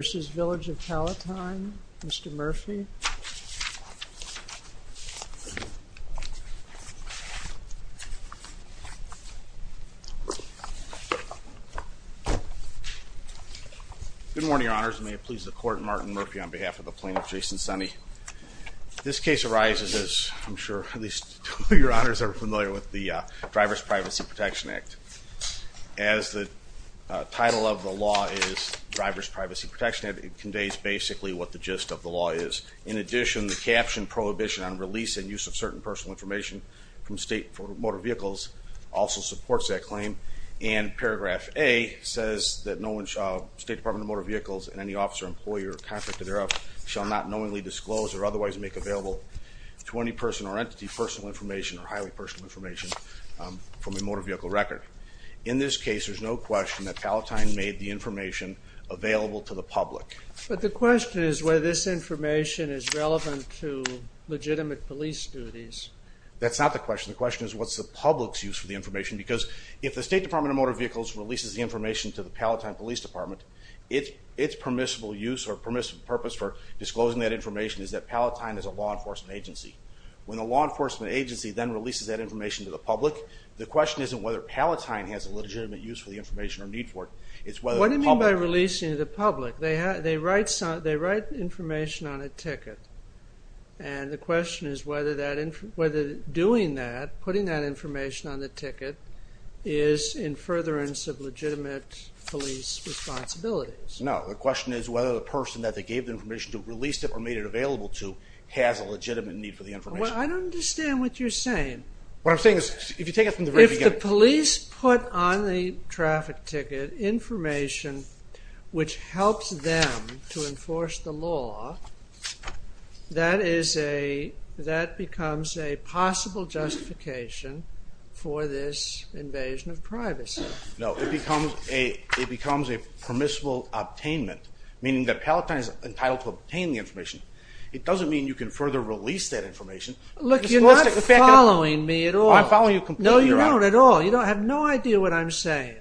v. Village of Palatine, Mr. Murphy. Good morning, Your Honors. May it please the Court, I'm Martin Murphy on behalf of the Plaintiff, Jason Senne. This case arises, as I'm sure at least your honors are familiar with, the Driver's Privacy Protection Act. As the title of the law is Driver's Privacy Protection Act, it conveys basically what the gist of the law is. In addition, the caption prohibition on release and use of certain personal information from state motor vehicles also supports that claim and paragraph A says that no one shall, State Department of Motor Vehicles and any officer, employer or contractor thereof shall not knowingly disclose or otherwise make available to any person or entity personal information or highly personal information from a motor vehicle record. In this case there's no question that Palatine made the information available to the public. But the question is whether this information is relevant to legitimate police duties. That's not the question. The question is what's the public's use for the information because if the State Department of Motor Vehicles releases the information to the Palatine Police Department, its permissible use or permissive purpose for disclosing that information is that Palatine is a law enforcement agency. When a law enforcement agency then releases that information to the public, the question isn't whether Palatine has a legitimate use for the information or need for it. What do you mean by releasing to the public? They write information on a ticket and the question is whether doing that, putting that information on the ticket, is in furtherance of legitimate police responsibilities. No, the question is whether the person that they gave the information to, released it or made it available to, has a legitimate need for the information. I don't understand what you're saying. What I'm saying is if you take it from the very beginning. If the police put on the traffic ticket information which helps them to enforce the law, that becomes a possible justification for this invasion of privacy. No, it becomes a permissible obtainment, meaning that Palatine is entitled to obtain the information. It doesn't mean you can further release that information. Look, you're not following me at all. I'm following you completely. No, you're not at all. You have no idea what I'm saying.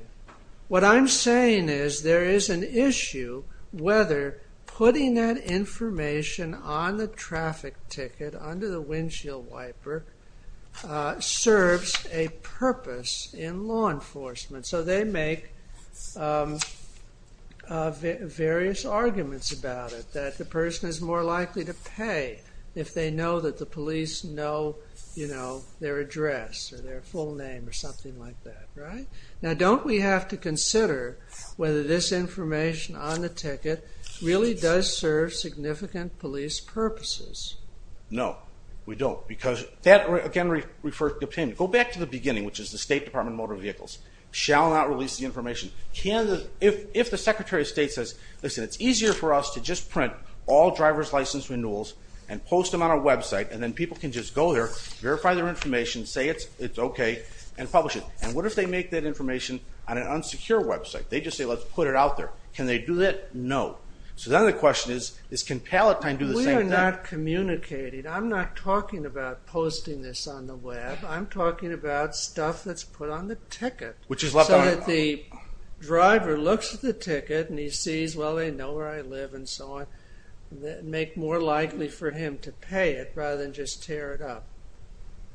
What I'm saying is there is an issue whether putting that information on the traffic ticket, under the windshield wiper, serves a purpose in law enforcement. So they make various arguments about it, that the person is more likely to pay if they know that the police know, you know, their address or their full name or something like that, right? Now don't we have to consider whether this information on the ticket really does serve significant police purposes? No, we don't because that again refers to obtain. Go back to the beginning, which is the State Department of Motor Vehicles, shall not release the information. If the Secretary of State says, listen, it's easier for us to just print all driver's license renewals and post them on our website and then people can just go there, verify their information, say it's okay, and publish it. And what if they make that information on an unsecure website? They just say let's put it out there. Can they do that? No. So then the question is, can Palatine do the same thing? We are not communicating. I'm not talking about posting this on the web. I'm talking about stuff that's put on the ticket. Which is left on it. So that the driver looks at the ticket and he sees, well they know where I live and so on, make more likely for him to pay it rather than just tear it up.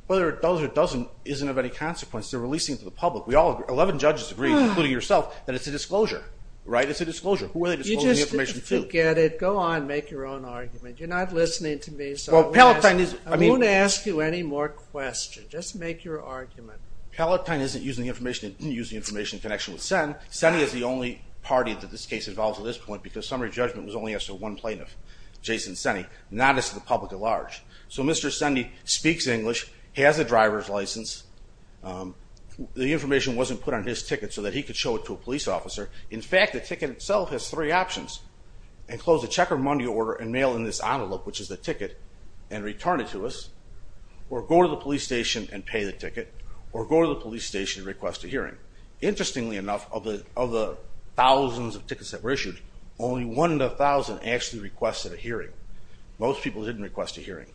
Whether it does or doesn't isn't of any consequence. They're releasing it to the public. We all agree, 11 judges agree, including yourself, that it's a disclosure, right? It's a disclosure. Who are they disclosing the information to? You just didn't get it. Go on, make your own argument. You're not listening to me. I won't ask you any more questions. Just make your argument. Palatine isn't using the information in connection with Senn. Senn is the only party that this case involves at this point because the summary judgment was only as to one plaintiff, Jason Senni, not as to the public at large. So Mr. Senni speaks English, has a driver's license. The information wasn't put on his ticket so that he could show it to a police officer. In fact, the ticket itself has three options. Enclose a check or money order and mail in this envelope, which is the ticket, and return it to us. Or go to the police station and pay the ticket. Or go to the police station and request a hearing. Interestingly enough, of the thousands of tickets that were issued, only one in a thousand actually requested a hearing. Most people didn't request a hearing.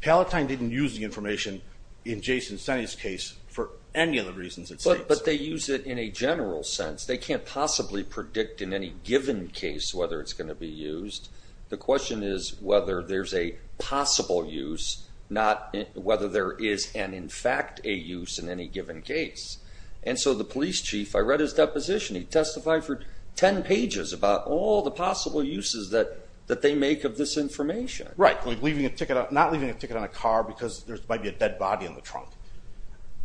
Palatine didn't use the information in Jason Senni's case for any of the reasons it states. But they use it in a general sense. They can't possibly predict in any given case whether it's going to be used. The question is whether there's a possible use, not whether there is an in fact a use in any given case. And so the police chief, I read his deposition. He testified for 10 pages about all the possible uses that they make of this information. Right, like not leaving a ticket on a car because there might be a dead body in the trunk.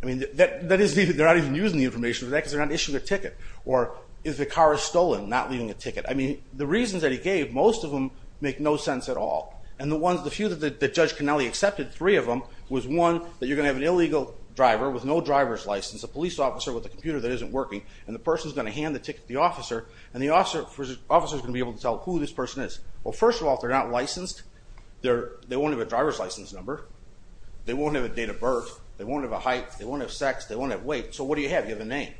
I mean, they're not even using the information for that because they're not issuing a ticket. Or if the car is stolen, not leaving a ticket. I mean, the reasons that he gave, most of them make no sense at all. And the few that Judge Connelly accepted, three of them, was one, that you're going to have an illegal driver with no driver's license, a police officer with a computer that isn't working, and the person's going to hand the ticket to the officer, and the officer is going to be able to tell who this person is. Well, first of all, if they're not licensed, they won't have a driver's license number, they won't have a date of birth, they won't have a height, they won't have sex, they won't have weight. So what do you have? You have a name.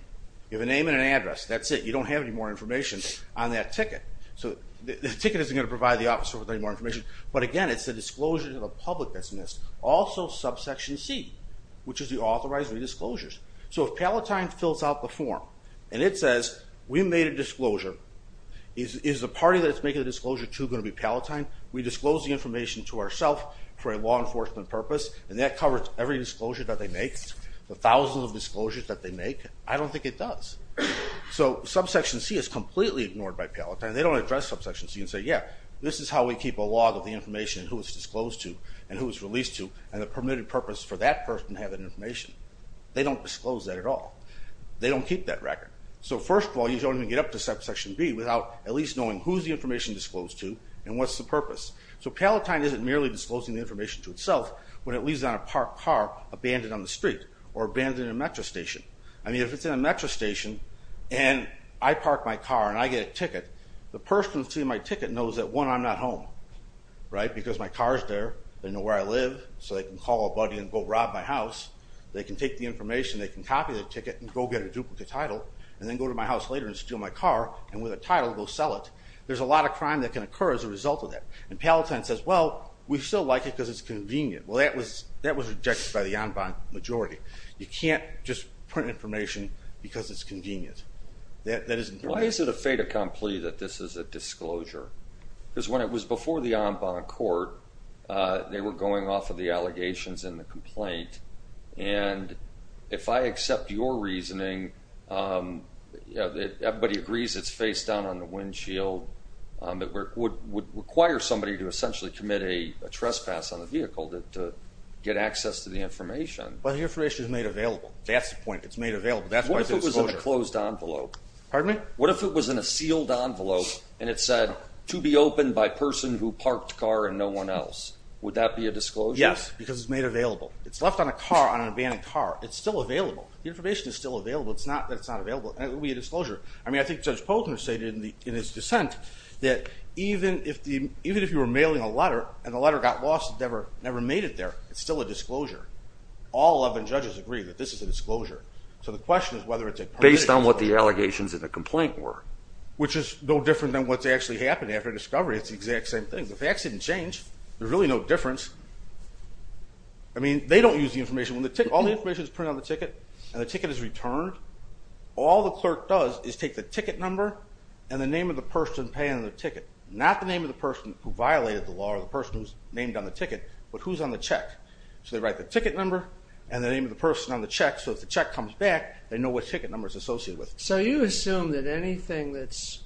You have a name and an address. That's it. You don't have any more information on that ticket. So the ticket isn't going to provide the officer with any more information. But again, it's the disclosure to the public that's missed. Also, subsection C, which is the authorizing disclosures. So if Palatine fills out the form, and it says, we made a disclosure, is the party that it's making a disclosure to going to be Palatine? We disclose the information to ourself for a law enforcement purpose, and that covers every disclosure that they make, the thousands of disclosures that they make? I don't think it does. So subsection C is completely ignored by Palatine. They don't address subsection C and say, yeah, this is how we keep a log of the information, who it's disclosed to, and who it's released to, and the permitted purpose for that person to have that information. They don't disclose that at all. They don't keep that record. So first of all, you don't even get up to subsection B without at least knowing who's the information disclosed to, and what's the purpose. So Palatine isn't merely disclosing the information to itself when it leaves on a parked car abandoned on the street, or abandoned in a metro station. I mean, if it's in a metro station, and I park my car, and I get a ticket, the person who's seeing my ticket knows that, one, I'm not home, right, because my car's there. They know where I live, so they can call a buddy and go rob my house. They can take the information, they can copy the ticket, and go get a duplicate title, and then go to my house later and steal my car, and with a title, go sell it. There's a lot of crime that can occur as a result of that. And Palatine says, well, we still like it because it's convenient. Well, that was rejected by the en banc majority. You can't just print information because it's convenient. Why is it a fait acceptable disclosure? Because when it was before the en banc court, they were going off of the allegations in the complaint, and if I accept your reasoning, everybody agrees it's face down on the windshield, it would require somebody to essentially commit a trespass on the vehicle to get access to the information. Well, the information is made available. That's the point. It's made available. That's why it's a disclosure. What if it was in a closed envelope? Pardon me? What if it was in a to be opened by a person who parked the car and no one else? Would that be a disclosure? Yes, because it's made available. It's left on a car, on an abandoned car. It's still available. The information is still available. It's not that it's not available. It would be a disclosure. I mean, I think Judge Poulter stated in his dissent that even if you were mailing a letter, and the letter got lost, never made it there, it's still a disclosure. All 11 judges agree that this is a disclosure. So the question is whether it's a partial disclosure. Based on what the allegations in the complaint were. Which is no different than what's actually happened after discovery. It's the exact same thing. The facts didn't change. There's really no difference. I mean, they don't use the information. When all the information is printed on the ticket, and the ticket is returned, all the clerk does is take the ticket number and the name of the person paying the ticket. Not the name of the person who violated the law or the person who's named on the ticket, but who's on the check. So they write the ticket number and the name of the person on the check. So if the check comes back, they know what ticket number is associated with it. So you assume that anything that's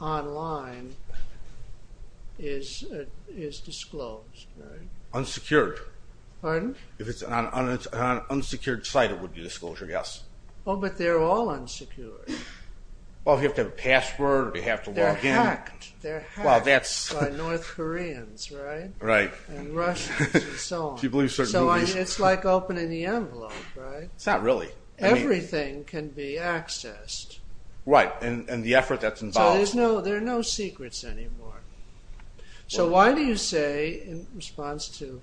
online is disclosed, right? Unsecured. Pardon? If it's on an unsecured site, it would be disclosure, yes. Oh, but they're all unsecured. Well, if you have to have a password, they have to log in. They're hacked by North Koreans, right? Right. And Russians, and so on. So it's like opening the envelope, right? It's not really. Everything can be accessed. Right, and the effort that's involved. So there's no, there are no secrets anymore. So why do you say, in response to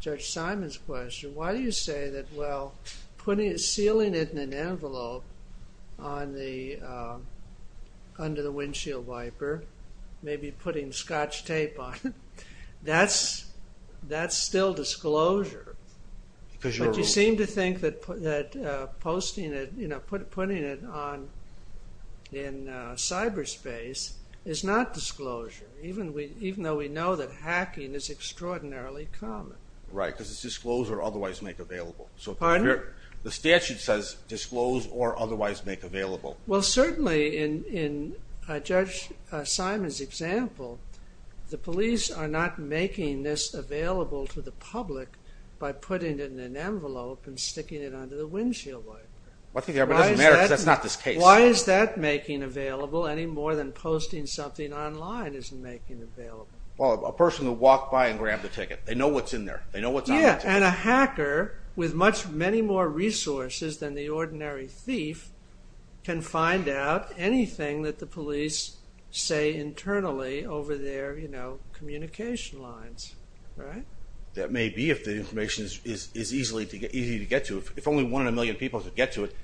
Judge Simon's question, why do you say that, well, sealing it in an envelope under the windshield wiper, maybe putting scotch tape on it, that's still disclosure. But you seem to think that posting it, you know, putting it in cyberspace is not disclosure, even though we know that hacking is extraordinarily common. Right, because it's disclose or otherwise make available. Pardon? The statute says disclose or otherwise make available. Well, certainly in Judge Simon's example, the police are not making this available to the public by putting it in an envelope and sticking it under the windshield wiper. Well, I think it doesn't matter because that's not this case. Why is that making available any more than posting something online isn't making it available? Well, a person will walk by and grab the ticket. They know what's in there. They know what's on the ticket. Yeah, and a hacker with many more resources than the ordinary thief can find out anything that the police say internally over their, you know, communication lines. Right? That may be if the information is easy to get to. If only one in a million people could get to it.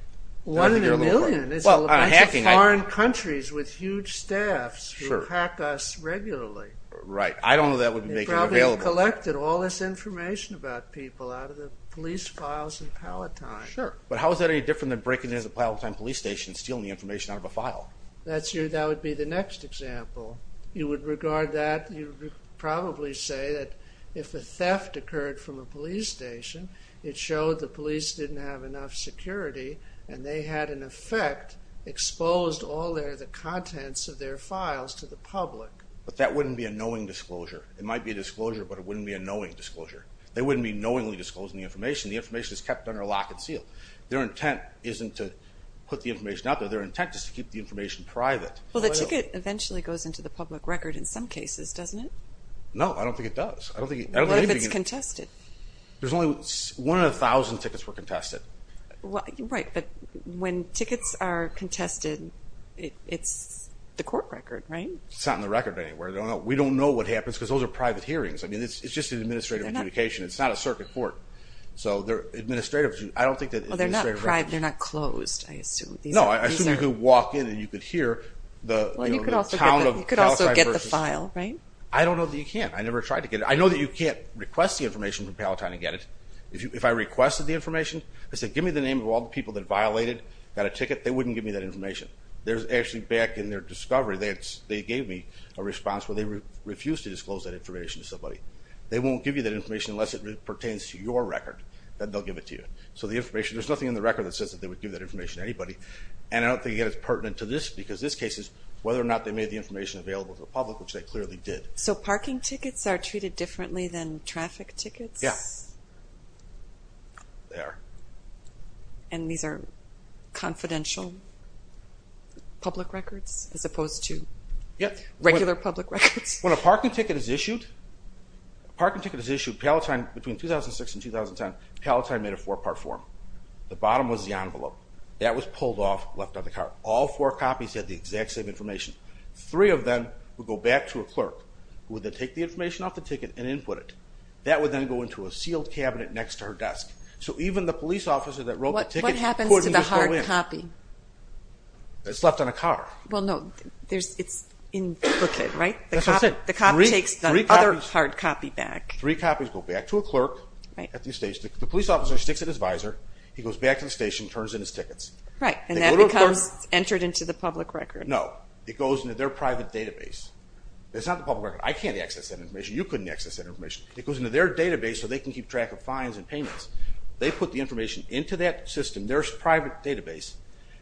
One in a million? It's a bunch of foreign countries with huge staffs who hack us regularly. Right. I don't know that would make it available. They probably collected all this information about people out of the police files in Palatine. Sure. But how is that any different than breaking into a Palatine police station and stealing the information out of a file? That would be the next example. You would regard that, you would probably say that if a theft occurred from a police station, it showed the police didn't have enough security and they had, in effect, exposed all the contents of their files to the public. But that wouldn't be a knowing disclosure. It might be a disclosure, but it wouldn't be a knowing disclosure. They wouldn't be knowingly disclosing the information. The information is kept under lock and seal. Their intent isn't to put the information out there. Their intent is to keep the information private. Well, the ticket eventually goes into the public record in some cases, doesn't it? No, I don't think it does. What if it's contested? One in a thousand tickets were contested. Right, but when tickets are contested, it's the court record, right? It's not in the record anywhere. We don't know what happens because those are private hearings. I mean, it's just an administrative communication. It's not a circuit court. I don't think it's an administrative record. Well, they're not private. They're not closed, I assume. No, I assume you could walk in and you could hear the town of Palatine versus... Well, you could also get the file, right? I don't know that you can. I never tried to get it. I know that you can't request the information from Palatine and get it. If I requested the information, I said, give me the name of all the people that violated, got a ticket, they wouldn't give me that information. Actually, back in their discovery, they gave me a response where they refused to disclose that information to somebody. They won't give you that information unless it pertains to your record. Then they'll give it to you. There's nothing in the record that says that they would give that information to anybody. And I don't think, again, it's pertinent to this because this case is whether or not they made the information available to the public, which they clearly did. So parking tickets are treated differently than traffic tickets? Yeah. And these are confidential public records as opposed to regular public records? When a parking ticket is issued, Palatine, between 2006 and 2010, Palatine made a four-part form. The bottom was the envelope. That was pulled off, left on the car. All four copies had the exact same information. Three of them would go back to a clerk, who would then take the information off the ticket and input it. That would then go into a sealed cabinet next to her desk. So even the police officer that wrote the ticket... What happens to the hard copy? It's left on a car. Well, no. It's in the booklet, right? That's what I said. The copy takes the other hard copy back. Three copies go back to a clerk. The police officer sticks it in his visor. He goes back to the station and turns in his tickets. And that becomes entered into the public record? No. It goes into their private database. It's not the public record. I can't access that information. You couldn't access that information. It goes into their database so they can keep track of fines and payments. They put the information into that system, their private database.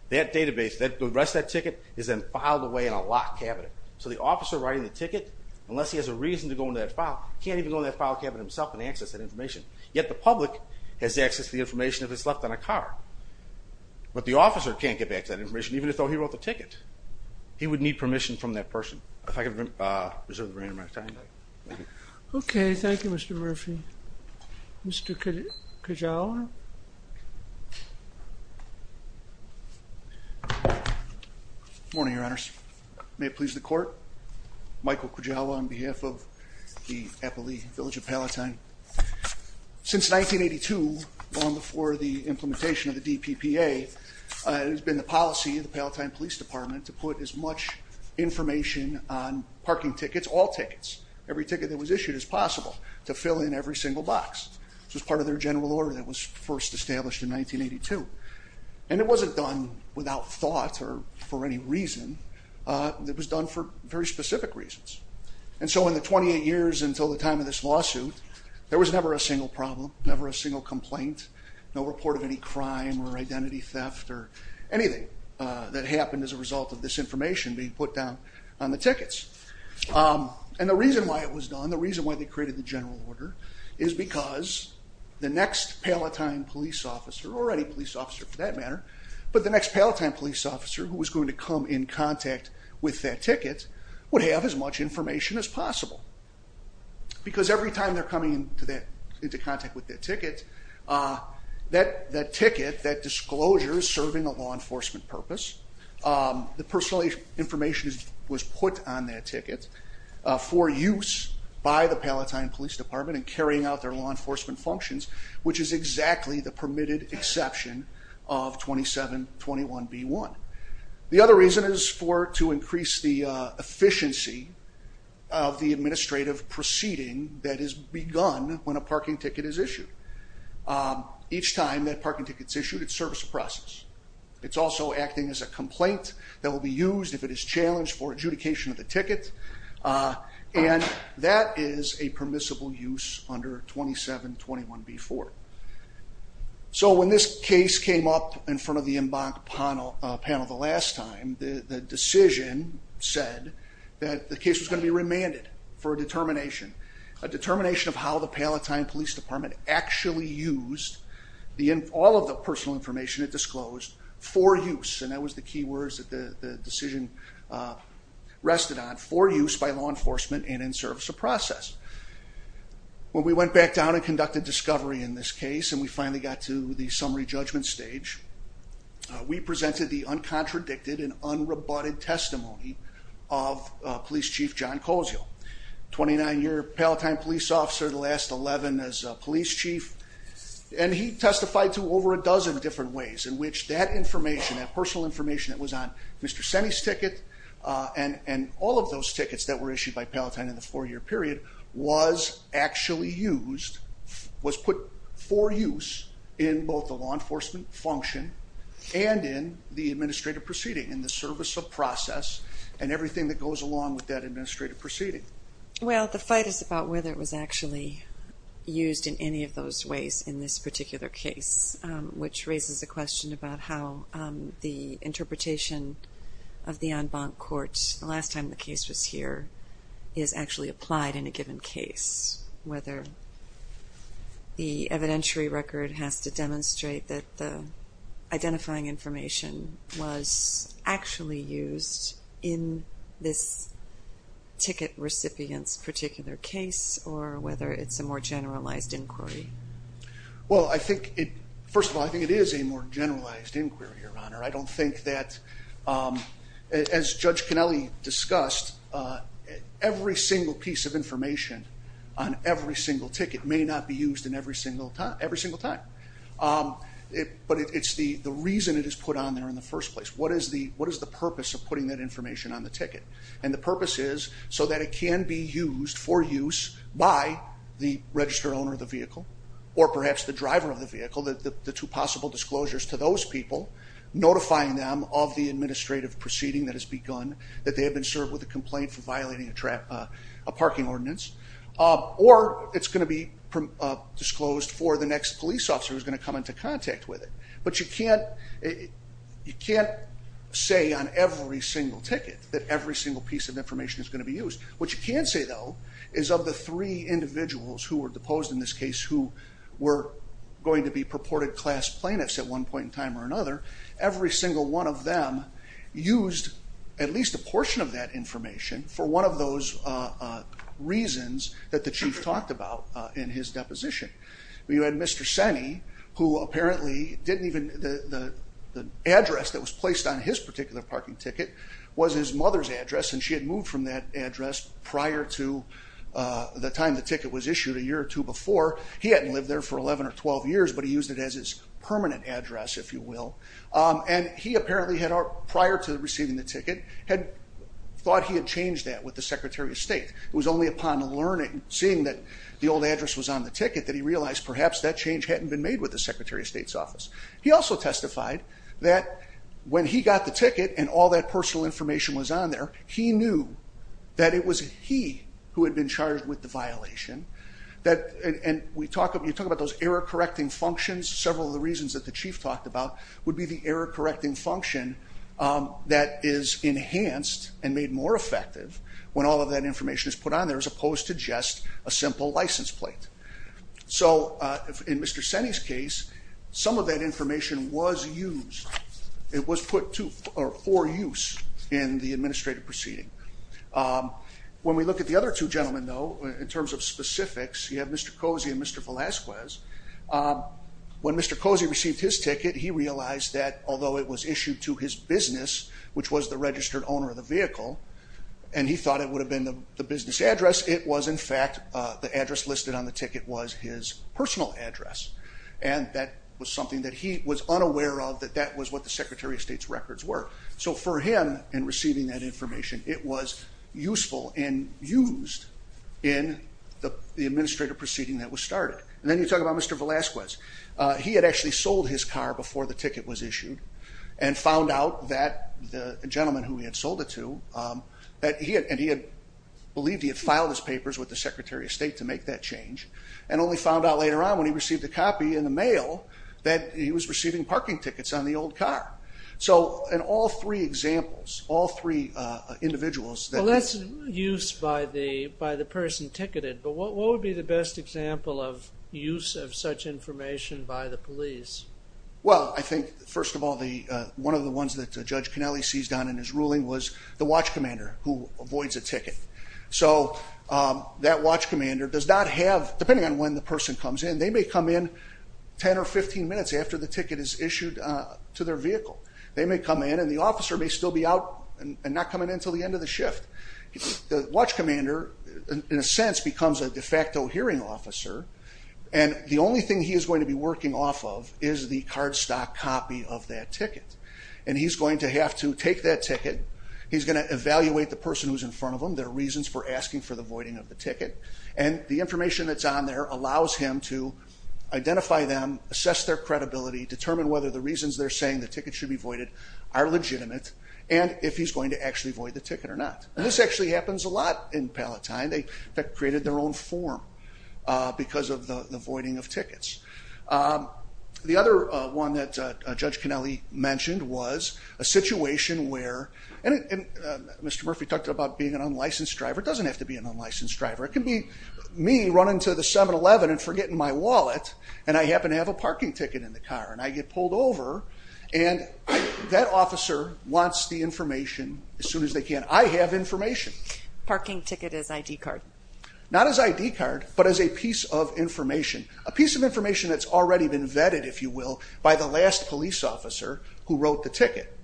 The rest of that ticket is then filed away in a locked cabinet. So the officer writing the ticket, unless he has a reason to go into that file, can't even go into that file cabinet himself and access that information. Yet the public has access to the information if it's left on a car. But the officer can't get back to that information, even though he wrote the ticket. He would need permission from that person. If I could reserve the remainder of my time. Okay. Thank you, Mr. Murphy. Mr. Kujawa? Good morning, Your Honors. May it please the Court. Michael Kujawa on behalf of the Appali Village of Palatine. Since 1982, long before the implementation of the DPPA, it has been the policy of the Palatine Police Department to put as much information on parking tickets, all tickets, every ticket that was issued as possible, to fill in every single box. This was part of their general order that was first established in 1982. And it wasn't done without thought or for any reason. It was done for very specific reasons. And so in the 28 years until the time of this lawsuit, there was never a single problem, never a single complaint, no report of any crime or identity theft or anything that happened as a result of this information being put down on the tickets. And the reason why it was done, the reason why they created the general order, is because the next Palatine police officer, or any police officer for that matter, but the next Palatine police officer who was going to come in contact with that ticket would have as much information as possible. Because every time they're coming into contact with that ticket, that ticket, that disclosure is serving a law enforcement purpose. The personal information was put on that ticket for use by the Palatine Police Department in carrying out their law enforcement functions, which is exactly the permitted exception of 2721B1. The other reason is to increase the efficiency of the administrative proceeding that is begun when a parking ticket is issued. Each time that parking ticket is issued, it serves a process. It's also acting as a complaint that will be used if it is challenged for adjudication of the 2721B4. So when this case came up in front of the Embank panel the last time, the decision said that the case was going to be remanded for a determination. A determination of how the Palatine Police Department actually used all of the personal information it disclosed for use, and that was the key words that the decision rested on, for use by law enforcement and in service of process. When we went back down and conducted discovery in this case and we finally got to the summary judgment stage, we presented the uncontradicted and unrebutted testimony of Police Chief John Koziel, 29-year Palatine Police Officer, the last 11 as Police Chief, and he testified to over a dozen different ways in which that those tickets that were issued by Palatine in the four-year period was actually used, was put for use in both the law enforcement function and in the administrative proceeding, in the service of process and everything that goes along with that administrative proceeding. Well, the fight is about whether it was actually used in any of those ways in this particular case, which raises a question about how the interpretation of the en banc court, the last time the case was here, is actually applied in a given case, whether the evidentiary record has to demonstrate that the identifying information was actually used in this ticket recipient's particular case, or whether it's a more generalized inquiry. Well, first of all, I think it is a more generalized inquiry, Your Honor. I don't think that, as Judge Canelli discussed, every single piece of information on every single ticket may not be used in every single time. But it's the reason it is put on there in the first place. What is the purpose of putting that information on the ticket? And the purpose is so that it can be used for use by the registered owner of the vehicle, or perhaps the driver of the vehicle, the two possible disclosures to those people, notifying them of the administrative proceeding that has begun, that they have been served with a complaint for violating a parking ordinance, or it's going to be disclosed for the next police officer who's going to come into contact with it. But you can't say on every single ticket that every single piece of information is going to be used. What you can say, though, is of the three individuals who were deposed in this case who were going to be purported class plaintiffs at one point in time or another, every single one of them used at least a portion of that information for one of those reasons that the Chief talked about in his deposition. You had Mr. Smith's address that was placed on his particular parking ticket was his mother's address, and she had moved from that address prior to the time the ticket was issued a year or two before. He hadn't lived there for 11 or 12 years, but he used it as his permanent address, if you will. And he apparently had, prior to receiving the ticket, thought he had changed that with the Secretary of State. It was only upon seeing that the old address was on the ticket that he also testified that when he got the ticket and all that personal information was on there, he knew that it was he who had been charged with the violation. And you talk about those error-correcting functions. Several of the reasons that the Chief talked about would be the error-correcting function that is enhanced and made more effective when all of that information is put on there as opposed to just a simple license plate. So in Mr. Senny's case, some of that information was used. It was put for use in the administrative proceeding. When we look at the other two gentlemen, though, in terms of specifics, you have Mr. Cozy and Mr. Velasquez. When Mr. Cozy received his ticket, he realized that although it was issued to his business, which was the registered owner of the vehicle, and he thought it would have been the business address, it was in fact the address listed on the ticket was his personal address. And that was something that he was unaware of, that that was what the Secretary of State's records were. So for him, in receiving that information, it was useful and used in the administrative proceeding that was started. And then you talk about Mr. Velasquez. He had actually sold his car before the ticket was issued and found out that the gentleman who he had sold it to, and he had believed he had filed his papers with the Secretary of State to make that change, and only found out later on when he received a copy in the mail that he was receiving parking tickets on the old car. So in all three examples, all three individuals... Well, that's use by the person ticketed, but what would be the best example of use of such information by the police? Well, I think first of all, one of the ones that Judge Connelly seized on in his ruling was the watch commander who avoids a ticket. So that watch commander does not have, depending on when the person comes in, they may come in 10 or 15 minutes after the ticket is issued to their vehicle. They may come in and the officer may still be out and not coming in until the end of the And the only thing he is going to be working off of is the card stock copy of that ticket. And he's going to have to take that ticket. He's going to evaluate the person who's in front of him. There are reasons for asking for the voiding of the ticket. And the information that's on there allows him to identify them, assess their credibility, determine whether the reasons they're saying the ticket should be voided are legitimate, and if he's going to actually void the ticket or not. And this actually happens a lot in Palatine. They created their own form because of the voiding of tickets. The other one that Judge Connelly mentioned was a situation where, and Mr. Murphy talked about being an unlicensed driver. It doesn't have to be an unlicensed driver. It can be me running to the 7-Eleven and forgetting my wallet and I happen to have a parking ticket in the car and I get pulled over and that officer wants the information as soon as they can. I have information. Parking ticket as ID card? Not as ID card, but as a piece of information. A piece of information that's already been vetted, if you will, by the last police officer who wrote the ticket.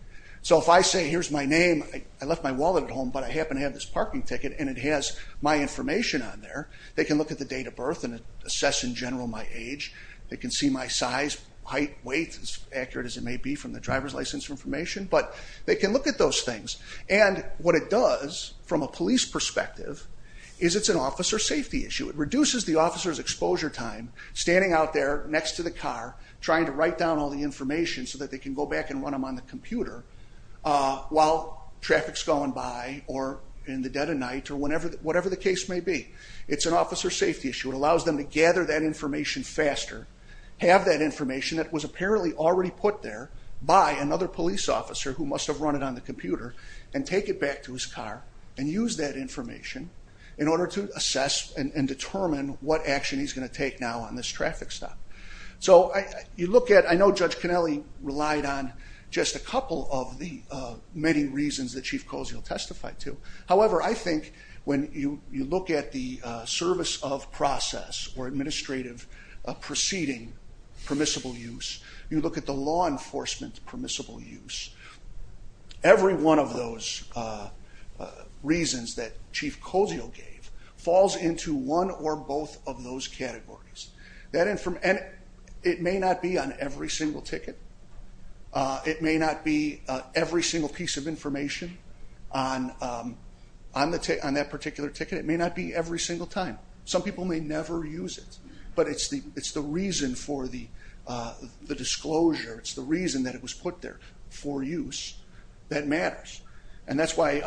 So if I say here's my name, I left my wallet at home, but I happen to have this parking ticket and it has my information on there, they can look at the date of birth and assess in general my age. They can see my size, height, weight, as accurate as it may be from the driver's license information, but they can look at those things. And what it does from a police perspective is it's an officer safety issue. It reduces the officer's exposure time standing out there next to the car trying to write down all the information so that they can go back and run them on the computer while traffic's going by or in the dead of night or whatever the case may be. It's an officer safety issue. It allows them to gather that information faster, have that information that was apparently already put there by another police officer who must have run it on the computer and take it back to his car and use that information in order to assess and determine what action he's going to take now on this traffic stop. So you look at, I know Judge Connelly relied on just a couple of the many reasons that Chief Cozio testified to. However, I think when you look at the service of process or administrative proceeding permissible use, you look at the law enforcement permissible use, every one of those reasons that Chief Cozio gave falls into one or both of those categories. It may not be on every single ticket. It may not be every single piece of information on that particular ticket. It may not be every single time. Some people may never use it. But it's the reason for the disclosure, it's the reason that it was put there for use that matters. And that's why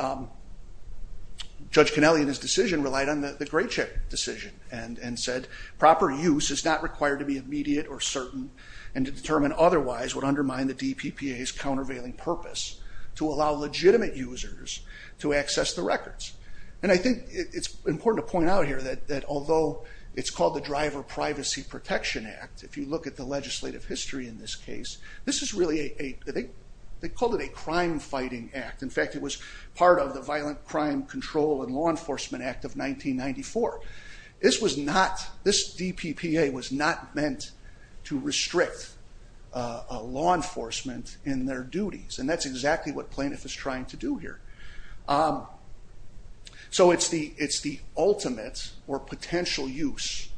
Judge Connelly and his decision relied on the Great Check decision and said proper use is not required to be immediate or certain and to determine otherwise would undermine the DPPA's countervailing purpose to allow legitimate users to access the records. And I think it's important to point out here that although it's called the Driver Privacy Protection Act, if you look at the legislative history in this case, this is really a, they called it a crime fighting act. In fact it was part of the Violent Crime Control and Law Enforcement Act of 1994. This was not, this DPPA was not meant to restrict law enforcement in their duties. And that's exactly what plaintiff is trying to do here. So it's the ultimate or potential use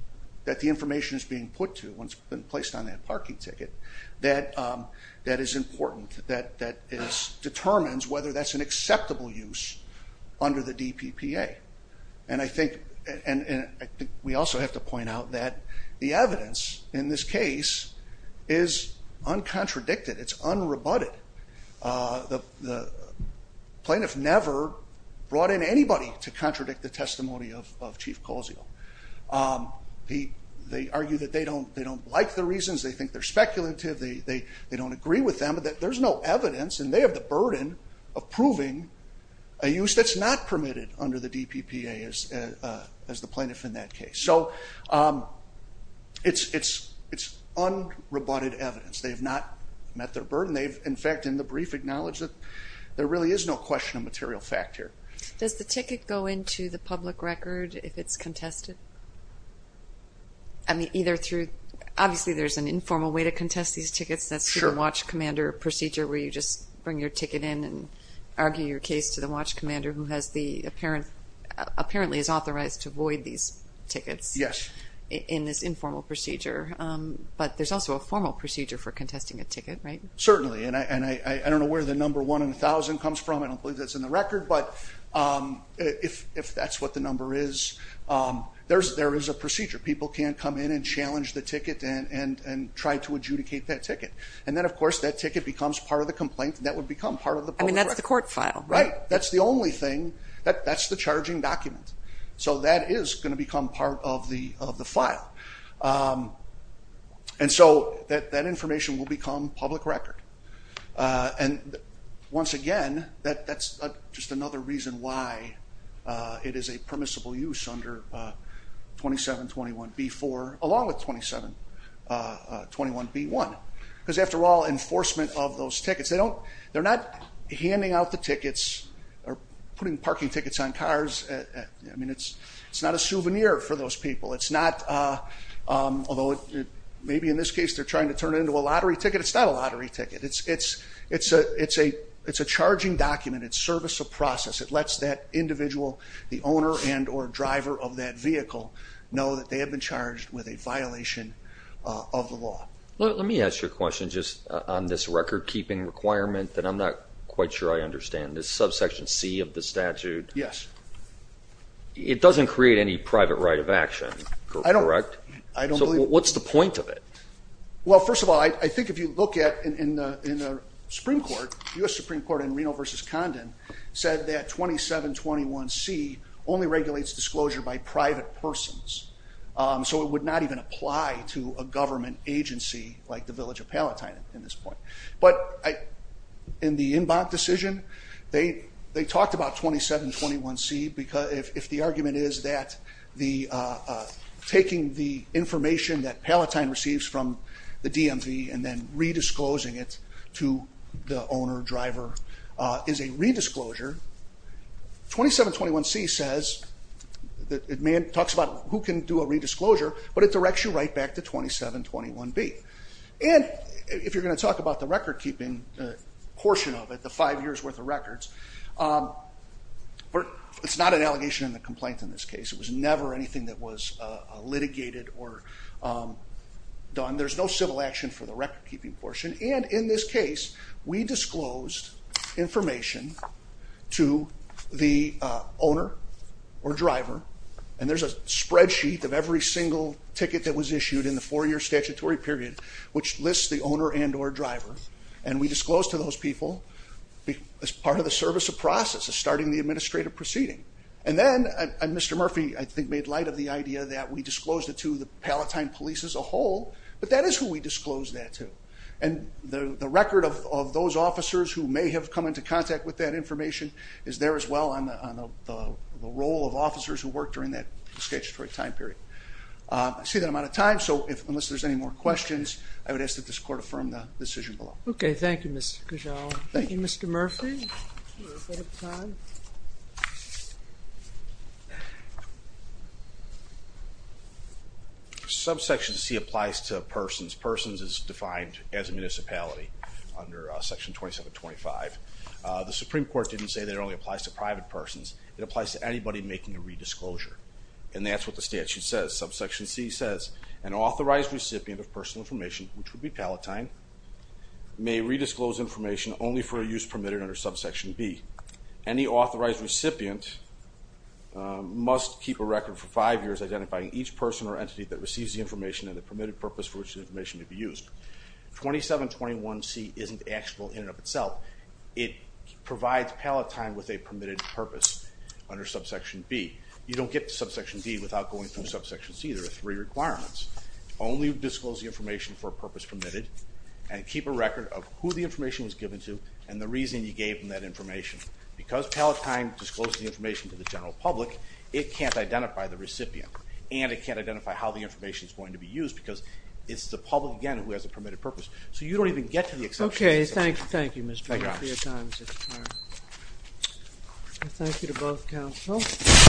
that the information is being put to once it's been placed on that parking ticket that is important, that determines whether that's an acceptable use under the DPPA. And I think we also have to point out that the evidence in this case is uncontradicted. It's unrebutted. The plaintiff never brought in anybody to contradict the testimony of Chief Colzio. They argue that they don't like the reasons, they think they're speculative, they don't agree with them, but there's no evidence and they have the burden of proving a use that's not permitted under the DPPA as the plaintiff in that case. So it's unrebutted evidence. They have not met their burden. They've in fact in the brief acknowledged that there really is no question of material fact here. Does the ticket go into the public record if it's contested? I mean either through, obviously there's an informal way to contest these tickets, that's through the watch commander procedure where you just bring your ticket in and argue your case to the watch commander who has the apparently is authorized to void these tickets in this informal procedure, but there's also a formal procedure for contesting a ticket, right? Certainly, and I don't know where the number one in a thousand comes from, I don't believe that's in the record, but if that's what the number is, there is a procedure. People can come in and challenge the ticket and try to adjudicate that ticket. And then of course that ticket becomes part of the complaint and that would become part of the public record. I mean that's the court file. Right, that's the only thing, that's the only thing. And so that information will become public record. And once again, that's just another reason why it is a permissible use under 2721B4 along with 2721B1. Because after all enforcement of those tickets, they're not handing out the tickets or putting parking tickets on cars. I mean it's not a souvenir for those people. It's not although maybe in this case they're trying to turn it into a lottery ticket, it's not a lottery ticket. It's a charging document. It's service of process. It lets that individual, the owner and or driver of that vehicle, know that they have been charged with a violation of the law. Let me ask you a question just on this record keeping requirement that I'm not quite sure I understand. This subsection C of the statute. Yes. It doesn't create any private right of action, correct? I don't believe So what's the point of it? Well first of all, I think if you look at in the Supreme Court, U.S. Supreme Court in Reno v. Condon said that 2721C only regulates disclosure by private persons. So it would not even apply to a government agency like the Village of Palatine at this point. But in the Inbonk decision, they talked about 2721C if the argument is that taking the information that Palatine receives from the DMV and then re-disclosing it to the owner, driver is a re-disclosure. 2721C says it talks about who can do a re-disclosure, but it directs you right back to 2721B. And if you're going to talk about the record keeping portion of it, the five years worth of records, it's not an allegation in the complaint in this case. It was never anything that was litigated or done. There's no civil action for the record keeping portion. And in this case, we disclosed information to the owner or driver, and there's a spreadsheet of every single ticket that was issued in the four-year statutory period, which lists the owner and or driver. And we disclosed to those people as part of the service of process, of starting the administrative proceeding. And then Mr. Murphy, I think, made light of the idea that we disclosed it to the Palatine police as a whole, but that is who we disclosed that to. And the record of those officers who may have come into contact with that information is there as well on the role of officers who worked during that statutory time period. I see that I'm out of time, so unless there's any more questions, I would ask that this Court affirm the decision below. Okay, thank you, Mr. Cajal. Thank you, Mr. Murphy. Subsection C applies to persons. Persons is defined as a municipality under Section 2725. The Supreme Court didn't say that it only applies to private persons. It applies to anybody making a redisclosure, and that's what the statute says. Subsection C says, an authorized recipient of personal information, which would be Palatine, may redisclose information only for a purpose permitted under Subsection B. Any authorized recipient must keep a record for five years identifying each person or entity that receives the information and the permitted purpose for which the information to be used. 2721C isn't actionable in and of itself. It provides Palatine with a permitted purpose under Subsection B. You don't get to Subsection B without going through Subsection C. There are three requirements. Only disclose the information for a purpose permitted, and keep a record of who the information was given to and the reason you gave them that information. Because Palatine discloses the information to the general public, it can't identify the recipient, and it can't identify how the information is going to be used because it's the public, again, who has a permitted purpose. So you don't even get to the exception of Subsection C. Okay, thank you, Mr. Murphy. Thank you to both counsels.